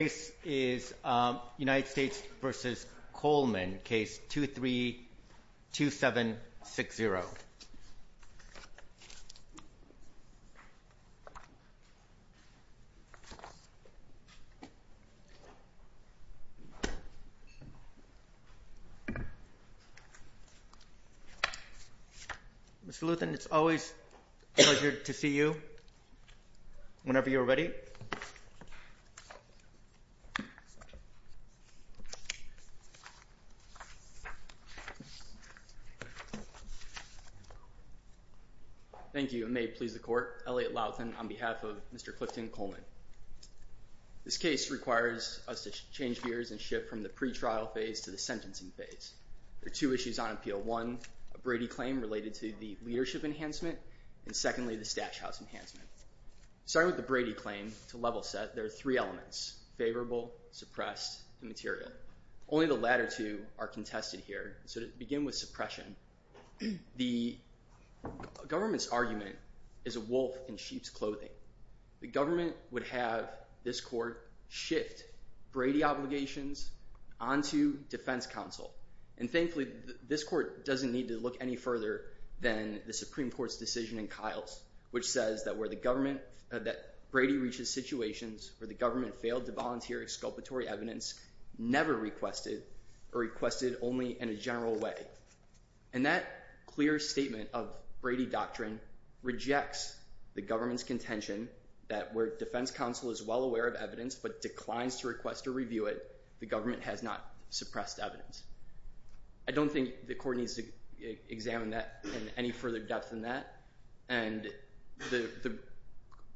This is United States v. Coleman, Case 23-2760. Mr. Luthan, it's always a pleasure to see you whenever you're ready. Thank you, and may it please the Court, Elliot Luthan on behalf of Mr. Clifton Coleman. This case requires us to change gears and shift from the pretrial phase to the sentencing phase. There are two issues on appeal. One, a Brady claim related to the leadership enhancement, and secondly, the stash house enhancement. Starting with the Brady claim, to level set, there are three elements, favorable, suppressed, and material. Only the latter two are contested here, so to begin with suppression, the government's argument is a wolf in sheep's clothing. The government would have this Court shift Brady obligations onto defense counsel, and thankfully this Court doesn't need to look any further than the Supreme Court's decision in Kiles, which says that where the government, that Brady reaches situations where the government failed to volunteer exculpatory evidence, never requested, or requested only in a general way. And that clear statement of Brady doctrine rejects the government's contention that where defense counsel is well aware of evidence, but declines to request or review it, the government has not suppressed evidence. I don't think the Court needs to examine that in any further depth than that, and the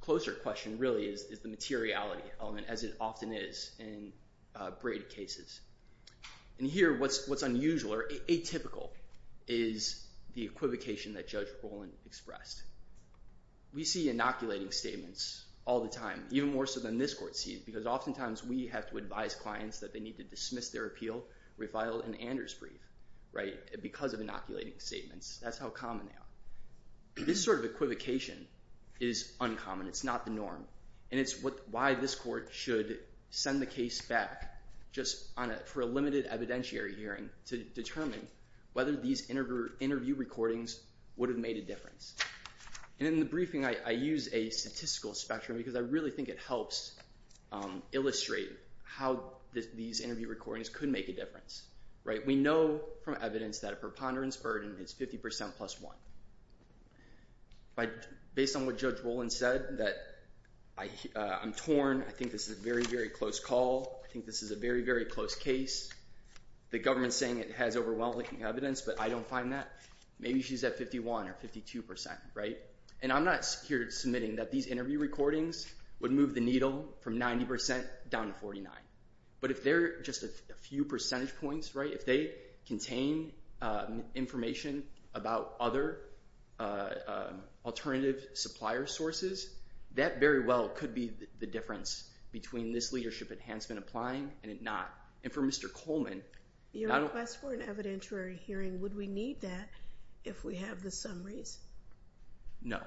closer question really is the materiality element, as it often is in Brady cases. And here what's unusual, or atypical, is the equivocation that Judge Bowen expressed. We see inoculating statements all the time, even more so than this Court sees, because oftentimes we have to advise clients that they need to dismiss their appeal, refile an Anders brief, right, because of inoculating statements. That's how common they are. This sort of equivocation is uncommon. It's not the norm. And it's why this Court should send the case back just for a limited evidentiary hearing to determine whether these interview recordings would have made a difference. And in the briefing I use a statistical spectrum because I really think it helps illustrate how these interview recordings could make a difference. We know from evidence that a preponderance burden is 50 percent plus one. Based on what Judge Bowen said, that I'm torn. I think this is a very, very close call. I think this is a very, very close case. The government is saying it has overwhelming evidence, but I don't find that. Maybe she's at 51 or 52 percent, right? And I'm not here submitting that these interview recordings would move the needle from 90 percent down to 49. But if they're just a few percentage points, right, if they contain information about other alternative supplier sources, that very well could be the difference between this leadership enhancement applying and it not. And for Mr. Coleman— Your request for an evidentiary hearing, would we need that if we have the summaries? No.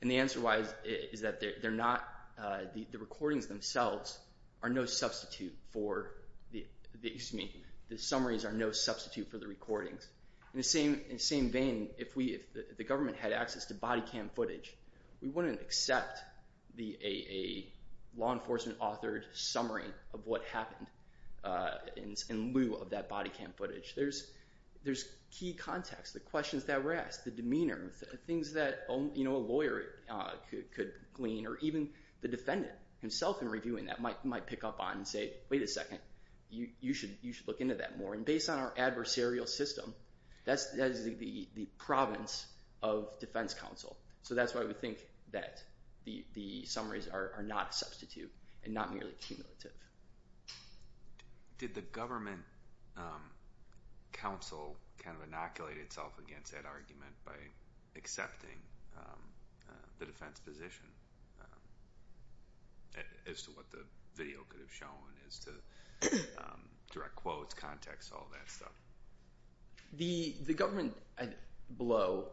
And the answer why is that they're not – the recordings themselves are no substitute for – excuse me, the summaries are no substitute for the recordings. In the same vein, if the government had access to body cam footage, we wouldn't accept a law enforcement-authored summary of what happened in lieu of that body cam footage. There's key context, the questions that were asked, the demeanor, things that a lawyer could glean, or even the defendant himself in reviewing that might pick up on and say, wait a second. You should look into that more. And based on our adversarial system, that's the province of defense counsel. So that's why we think that the summaries are not a substitute and not merely cumulative. Did the government counsel kind of inoculate itself against that argument by accepting the defense position as to what the video could have shown, as to direct quotes, context, all that stuff? The government below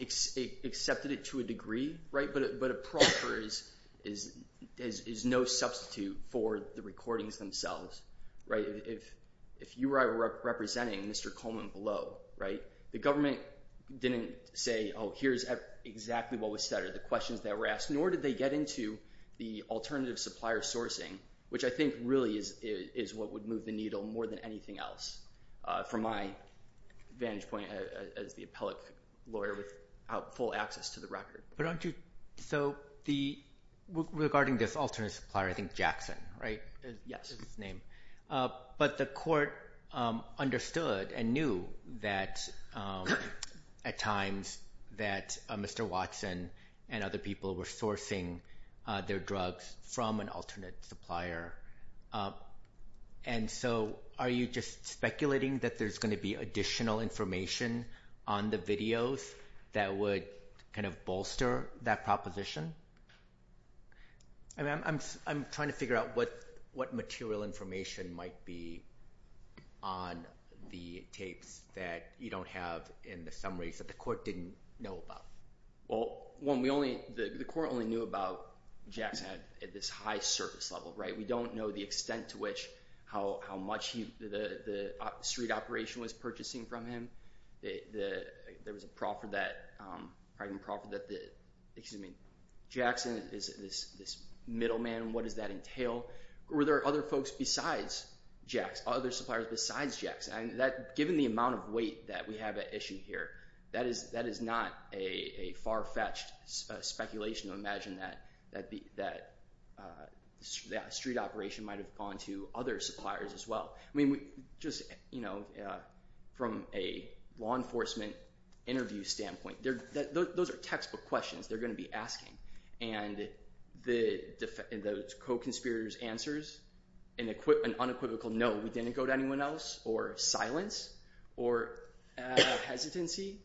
accepted it to a degree, but a proffer is no substitute for the recordings themselves. If you or I were representing Mr. Coleman below, the government didn't say, oh, here's exactly what was said or the questions that were asked, nor did they get into the alternative supplier sourcing, which I think really is what would move the needle more than anything else from my vantage point as the appellate lawyer without full access to the record. But aren't you – so regarding this alternate supplier, I think Jackson, right? Yes. Is his name. But the court understood and knew that at times that Mr. Watson and other people were sourcing their drugs from an alternate supplier. And so are you just speculating that there's going to be additional information on the videos that would kind of bolster that proposition? I'm trying to figure out what material information might be on the tapes that you don't have in the summaries that the court didn't know about. Well, one, the court only knew about Jackson at this high service level. We don't know the extent to which how much the street operation was purchasing from him. There was a proffer that – excuse me, Jackson is this middleman. What does that entail? Were there other folks besides Jackson, other suppliers besides Jackson? Given the amount of weight that we have at issue here, that is not a far-fetched speculation to imagine that a street operation might have gone to other suppliers as well. I mean, just from a law enforcement interview standpoint, those are textbook questions they're going to be asking. And the co-conspirator's answers, an unequivocal no, we didn't go to anyone else, or silence, or hesitancy,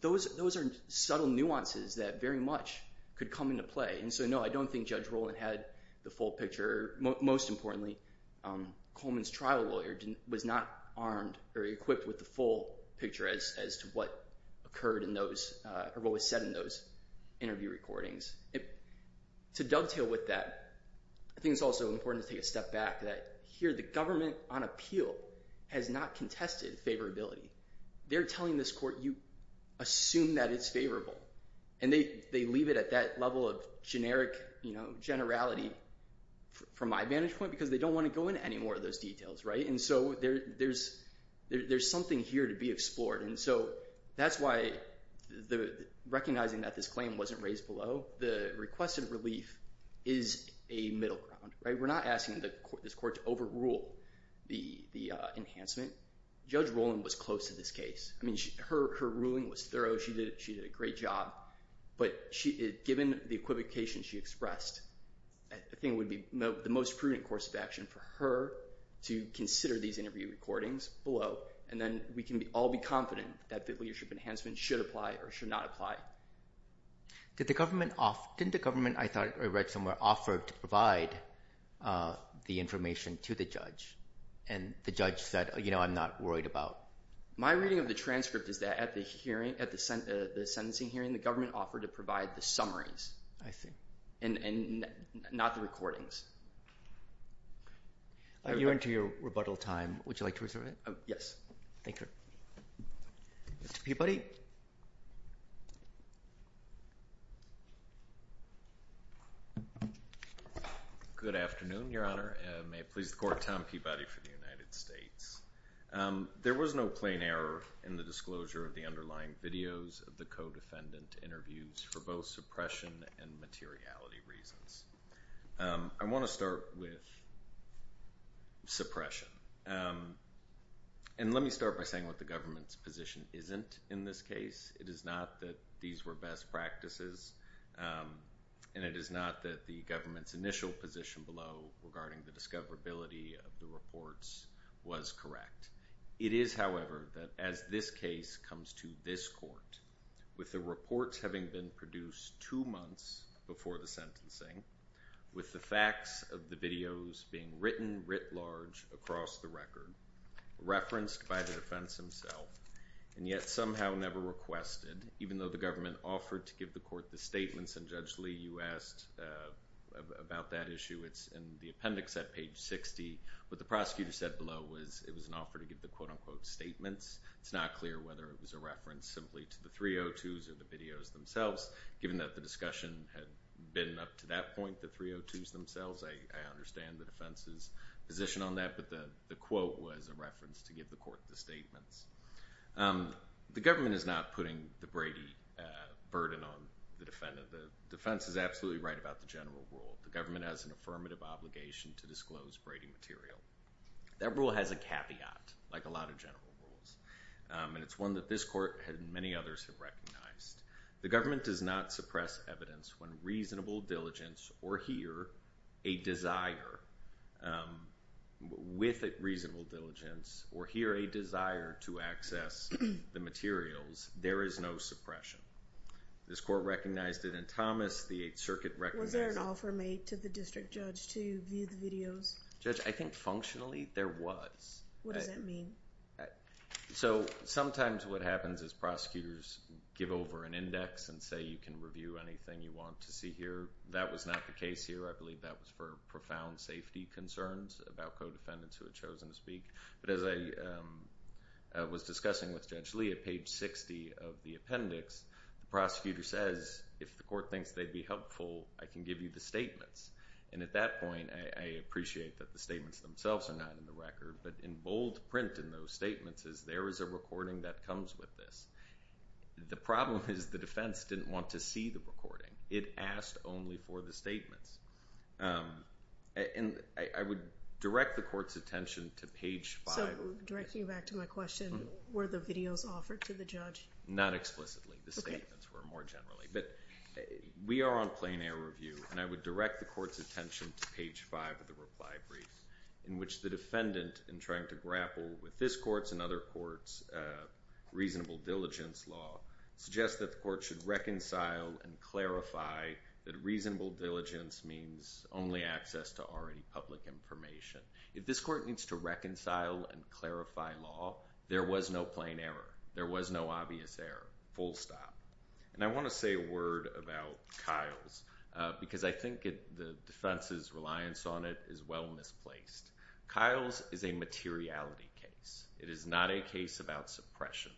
those are subtle nuances that very much could come into play. And so no, I don't think Judge Rowland had the full picture. Most importantly, Coleman's trial lawyer was not armed or equipped with the full picture as to what occurred in those – or what was said in those interview recordings. To dovetail with that, I think it's also important to take a step back that here the government on appeal has not contested favorability. They're telling this court, you assume that it's favorable. And they leave it at that level of generic generality from my vantage point because they don't want to go into any more of those details. And so there's something here to be explored. And so that's why recognizing that this claim wasn't raised below, the requested relief is a middle ground. We're not asking this court to overrule the enhancement. Judge Rowland was close to this case. I mean, her ruling was thorough. She did a great job. But given the equivocation she expressed, I think it would be the most prudent course of action for her to consider these interview recordings below, and then we can all be confident that the leadership enhancement should apply or should not apply. Didn't the government, I thought I read somewhere, offer to provide the information to the judge? And the judge said, you know, I'm not worried about it. My reading of the transcript is that at the sentencing hearing, the government offered to provide the summaries and not the recordings. You're into your rebuttal time. Would you like to reserve it? Yes. Thank you. Mr. Peabody? Good afternoon, Your Honor. May it please the Court, Tom Peabody for the United States. There was no plain error in the disclosure of the underlying videos of the co-defendant interviews for both suppression and materiality reasons. I want to start with suppression. And let me start by saying what the government's position isn't in this case. It is not that these were best practices, and it is not that the government's initial position below regarding the discoverability of the reports was correct. It is, however, that as this case comes to this Court, with the reports having been produced two months before the sentencing, with the facts of the videos being written writ large across the record, referenced by the defense himself, and yet somehow never requested, even though the government offered to give the Court the statements, and Judge Lee, you asked about that issue. It's in the appendix at page 60. What the prosecutor said below was it was an offer to give the quote-unquote statements. It's not clear whether it was a reference simply to the 302s or the videos themselves. Given that the discussion had been up to that point, the 302s themselves, I understand the defense's position on that, but the quote was a reference to give the Court the statements. The government is not putting the Brady burden on the defendant. The defense is absolutely right about the general rule. The government has an affirmative obligation to disclose Brady material. That rule has a caveat, like a lot of general rules, and it's one that this Court and many others have recognized. The government does not suppress evidence when reasonable diligence, or here, a desire with reasonable diligence, or here, a desire to access the materials. There is no suppression. This Court recognized it in Thomas. The Eighth Circuit recognized it... Was there an offer made to the district judge to view the videos? Judge, I think functionally there was. What does that mean? Sometimes what happens is prosecutors give over an index and say, you can review anything you want to see here. That was not the case here. I believe that was for profound safety concerns about co-defendants who had chosen to speak. But as I was discussing with Judge Lee, at page 60 of the appendix, the prosecutor says, if the Court thinks they'd be helpful, I can give you the statements. And at that point, I appreciate that the statements themselves are not in the record, but in bold print in those statements is, there is a recording that comes with this. The problem is the defense didn't want to see the recording. It asked only for the statements. And I would direct the Court's attention to page 5... So, directing you back to my question, were the videos offered to the judge? Not explicitly. The statements were more generally. But we are on plain-air review, and I would direct the Court's attention to page 5 of the reply brief, in which the defendant, in trying to grapple with this Court's and other Courts' reasonable diligence law, suggests that the Court should reconcile and clarify that reasonable diligence means only access to already public information. If this Court needs to reconcile and clarify law, there was no plain error. There was no obvious error. Full stop. And I want to say a word about Kyle's, because I think the defense's reliance on it is well misplaced. Kyle's is a materiality case. It is not a case about suppression.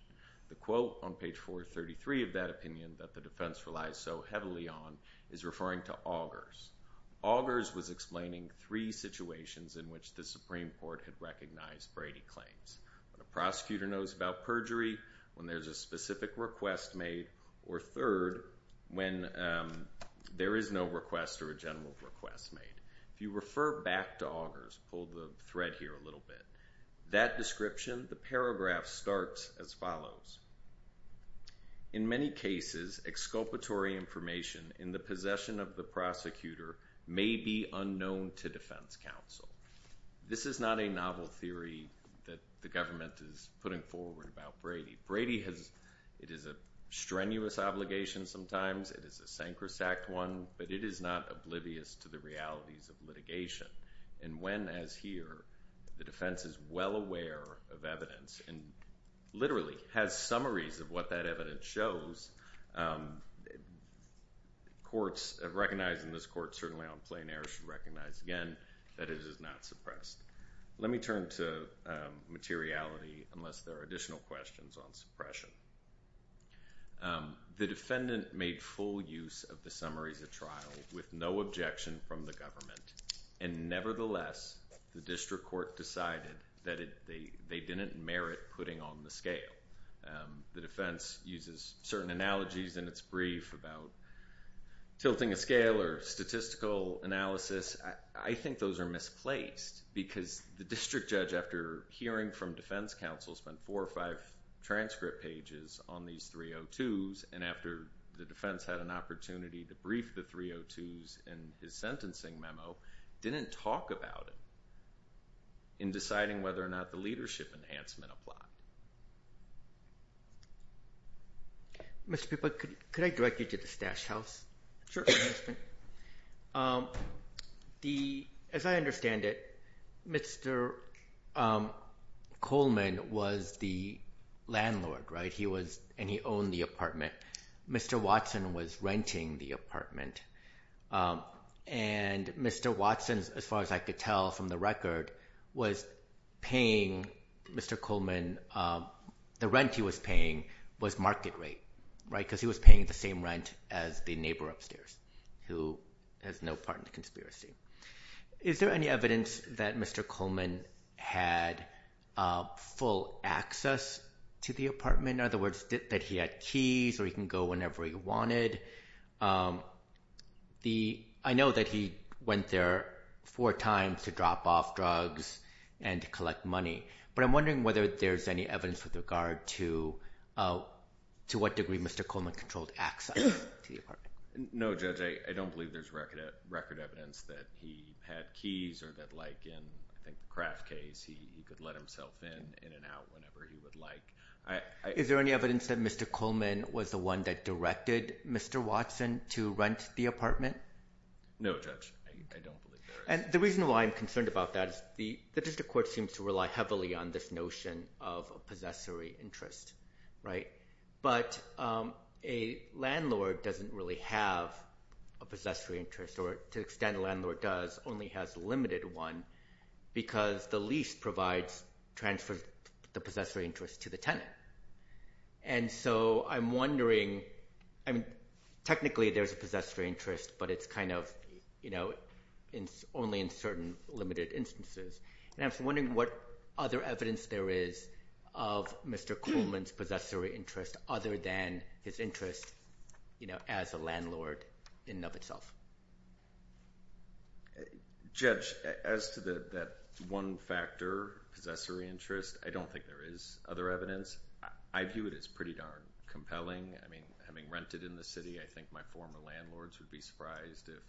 The quote on page 433 of that opinion that the defense relies so heavily on is referring to Augers. Augers was explaining three situations in which the Supreme Court had recognized Brady claims. When a prosecutor knows about perjury, when there's a specific request made, or third, when there is no request or a general request made. If you refer back to Augers, pull the thread here a little bit, that description, the paragraph starts as follows. In many cases, exculpatory information in the possession of the prosecutor may be unknown to defense counsel. This is not a novel theory that the government is putting forward about Brady. Brady has, it is a strenuous obligation sometimes. It is a sacrosanct one, but it is not oblivious to the realities of litigation. When, as here, the defense is well aware of evidence and literally has summaries of what that evidence shows, recognizing this court certainly on plain air should recognize again that it is not suppressed. Let me turn to materiality unless there are additional questions on suppression. The defendant made full use of the summaries at trial with no objection from the government and nevertheless the district court decided that they didn't merit putting on the scale. The defense uses certain analogies in its brief about tilting a scale or statistical analysis. I think those are misplaced because the district judge, after hearing from defense counsel, spent four or five transcript pages on these 302s and after the defense had an opportunity to brief the 302s in his sentencing memo, didn't talk about it in deciding whether or not the leadership enhancement applied. Mr. Pippa, could I direct you to the Stash House? Sure. As I understand it, Mr. Coleman was the landlord and he owned the apartment. Mr. Watson was renting the apartment and Mr. Watson, as far as I could tell from the record, was paying Mr. Coleman the rent he was paying was market rate because he was paying the same rent as the neighbor upstairs who has no part in the conspiracy. Is there any evidence that Mr. Coleman had full access to the apartment? In other words, that he had keys or he can go whenever he wanted? I know that he went there four times to drop off drugs and to collect money, but I'm wondering whether there's any evidence with regard to what degree Mr. Coleman controlled access to the apartment. No, Judge, I don't believe there's record evidence that he had keys or that like in the Kraft case, he could let himself in and out whenever he would like. Is there any evidence that Mr. Coleman was the one that directed Mr. Watson to rent the apartment? No, Judge, I don't believe there is. The reason why I'm concerned about that is the district court seems to rely heavily on this notion of a possessory interest. But a landlord doesn't really have a possessory interest or to the extent a landlord does, only has limited one because the lease transfers the possessory interest to the tenant. And so I'm wondering, technically there's a possessory interest, but it's only in certain limited instances. And I'm wondering what other evidence there is of Mr. Coleman's possessory interest other than his interest as a landlord in and of itself. Judge, as to that one factor, possessory interest, I don't think there is other evidence. I view it as pretty darn compelling. I mean, having rented in the city, I think my former landlords would be surprised if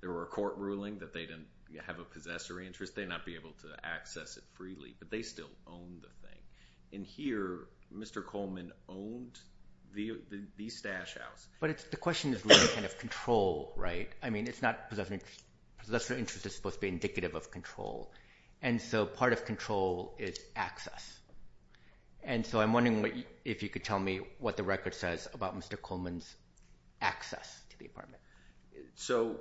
there were a court ruling that they didn't have a possessory interest. They'd not be able to access it freely, but they still owned the thing. And here, Mr. Coleman owned the stash house. But the question is really kind of control, right? I mean, possessory interest is supposed to be indicative of control. And so part of control is access. And so I'm wondering if you could tell me what the record says about Mr. Coleman's access to the apartment. So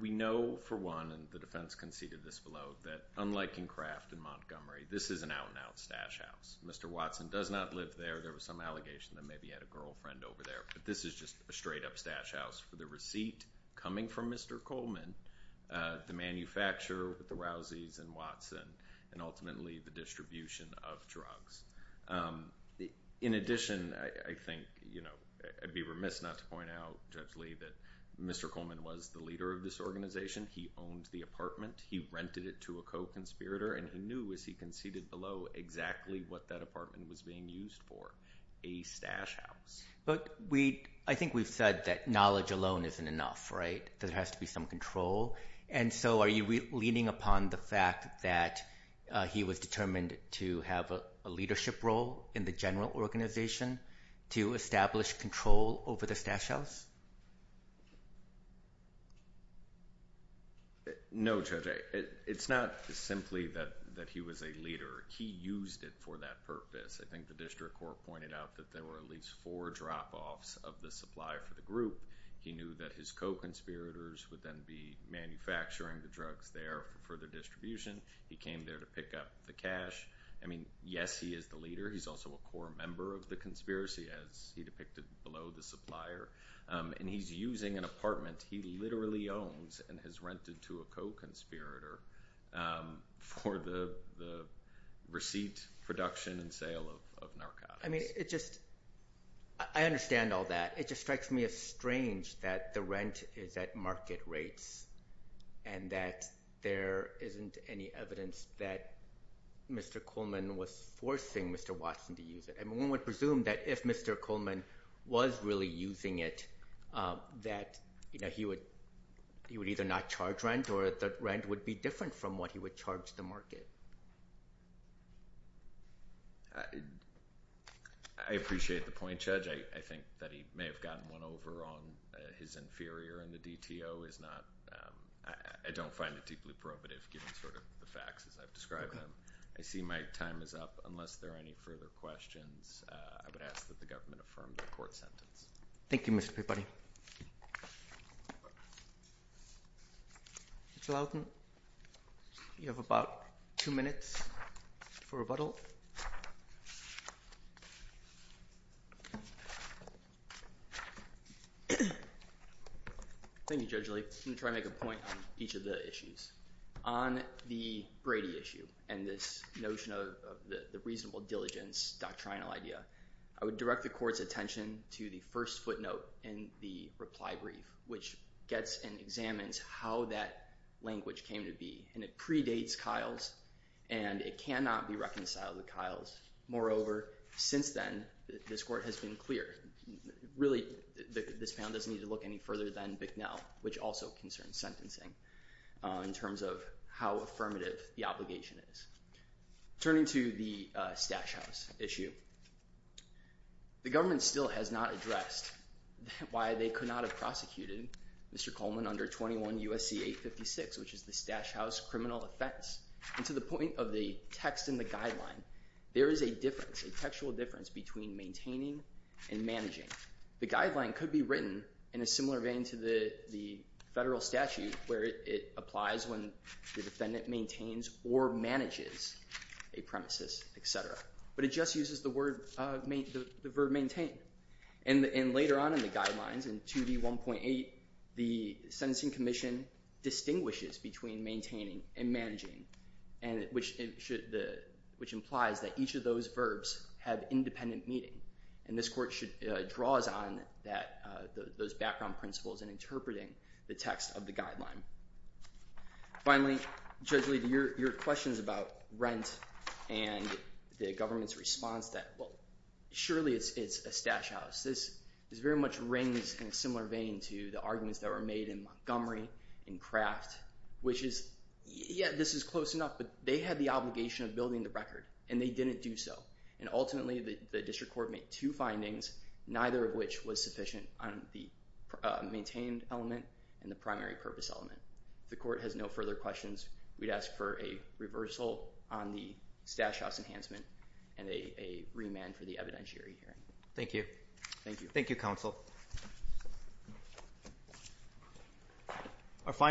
we know, for one, and the defense conceded this below, that unlike in Kraft in Montgomery, this is an out-and-out stash house. Mr. Watson does not live there. There was some allegation that maybe he had a girlfriend over there. But this is just a straight-up stash house for the receipt coming from Mr. Coleman, the manufacturer with the Rouseys and Watson, and ultimately the distribution of drugs. In addition, I think I'd be remiss not to point out, Judge Lee, that Mr. Coleman was the leader of this organization. He owned the apartment. He rented it to a co-conspirator. And he knew, as he conceded below, exactly what that apartment was being used for, a stash house. But I think we've said that knowledge alone isn't enough, right? There has to be some control. And so are you leaning upon the fact that he was determined to have a leadership role in the general organization to establish control over the stash house? No, Judge. It's not simply that he was a leader. He used it for that purpose. I think the district court pointed out that there were at least four drop-offs of the supply for the group. He knew that his co-conspirators would then be manufacturing the drugs there for the distribution. He came there to pick up the cash. I mean, yes, he is the leader. He's also a core member of the conspiracy, as he depicted below, the supplier. And he's using an apartment he literally owns and has rented to a co-conspirator for the receipt, production, and sale of narcotics. I mean, I understand all that. It just strikes me as strange that the rent is at market rates and that there isn't any evidence that Mr. Coleman was forcing Mr. Watson to use it. I mean, one would presume that if Mr. Coleman was really using it, that he would either not charge rent or that rent would be different from what he would charge the market. I appreciate the point, Judge. I think that he may have gotten one over on his inferior in the DTO. I don't find it deeply probative, given sort of the facts as I've described them. I see my time is up. Unless there are any further questions, I would ask that the government affirm the court sentence. Thank you, Mr. Peabody. Judge Lowden, you have about two minutes for rebuttal. Thank you, Judge Lee. I'm going to try to make a point on each of the issues. On the Brady issue and this notion of the reasonable diligence doctrinal idea, I would direct the court's attention to the first footnote in the reply brief, which gets and examines how that language came to be. And it predates Kyle's and it cannot be reconciled with Kyle's. Moreover, since then, this court has been clear. Really, this panel doesn't need to look any further than Bicknell, which also concerns sentencing. In terms of how affirmative the obligation is. Turning to the Stash House issue, the government still has not addressed why they could not have prosecuted Mr. Coleman under 21 U.S.C. 856, which is the Stash House criminal offense. And to the point of the text in the guideline, there is a difference, a textual difference between maintaining and managing. The guideline could be written in a similar vein to the federal statute, where it applies when the defendant maintains or manages a premises, et cetera. But it just uses the word maintain. And later on in the guidelines in 2D1.8, the Sentencing Commission distinguishes between maintaining and managing, which implies that each of those verbs have independent meaning. And this court draws on those background principles in interpreting the text of the guideline. Finally, Judge Lee, your questions about rent and the government's response that, well, surely it's a Stash House. This very much rings in a similar vein to the arguments that were made in Montgomery and Kraft, which is, yeah, this is close enough. But they had the obligation of building the record, and they didn't do so. And ultimately, the district court made two findings, neither of which was sufficient on the maintained element and the primary purpose element. If the court has no further questions, we'd ask for a reversal on the Stash House enhancement and a remand for the evidentiary hearing. Thank you. Thank you. Thank you, counsel.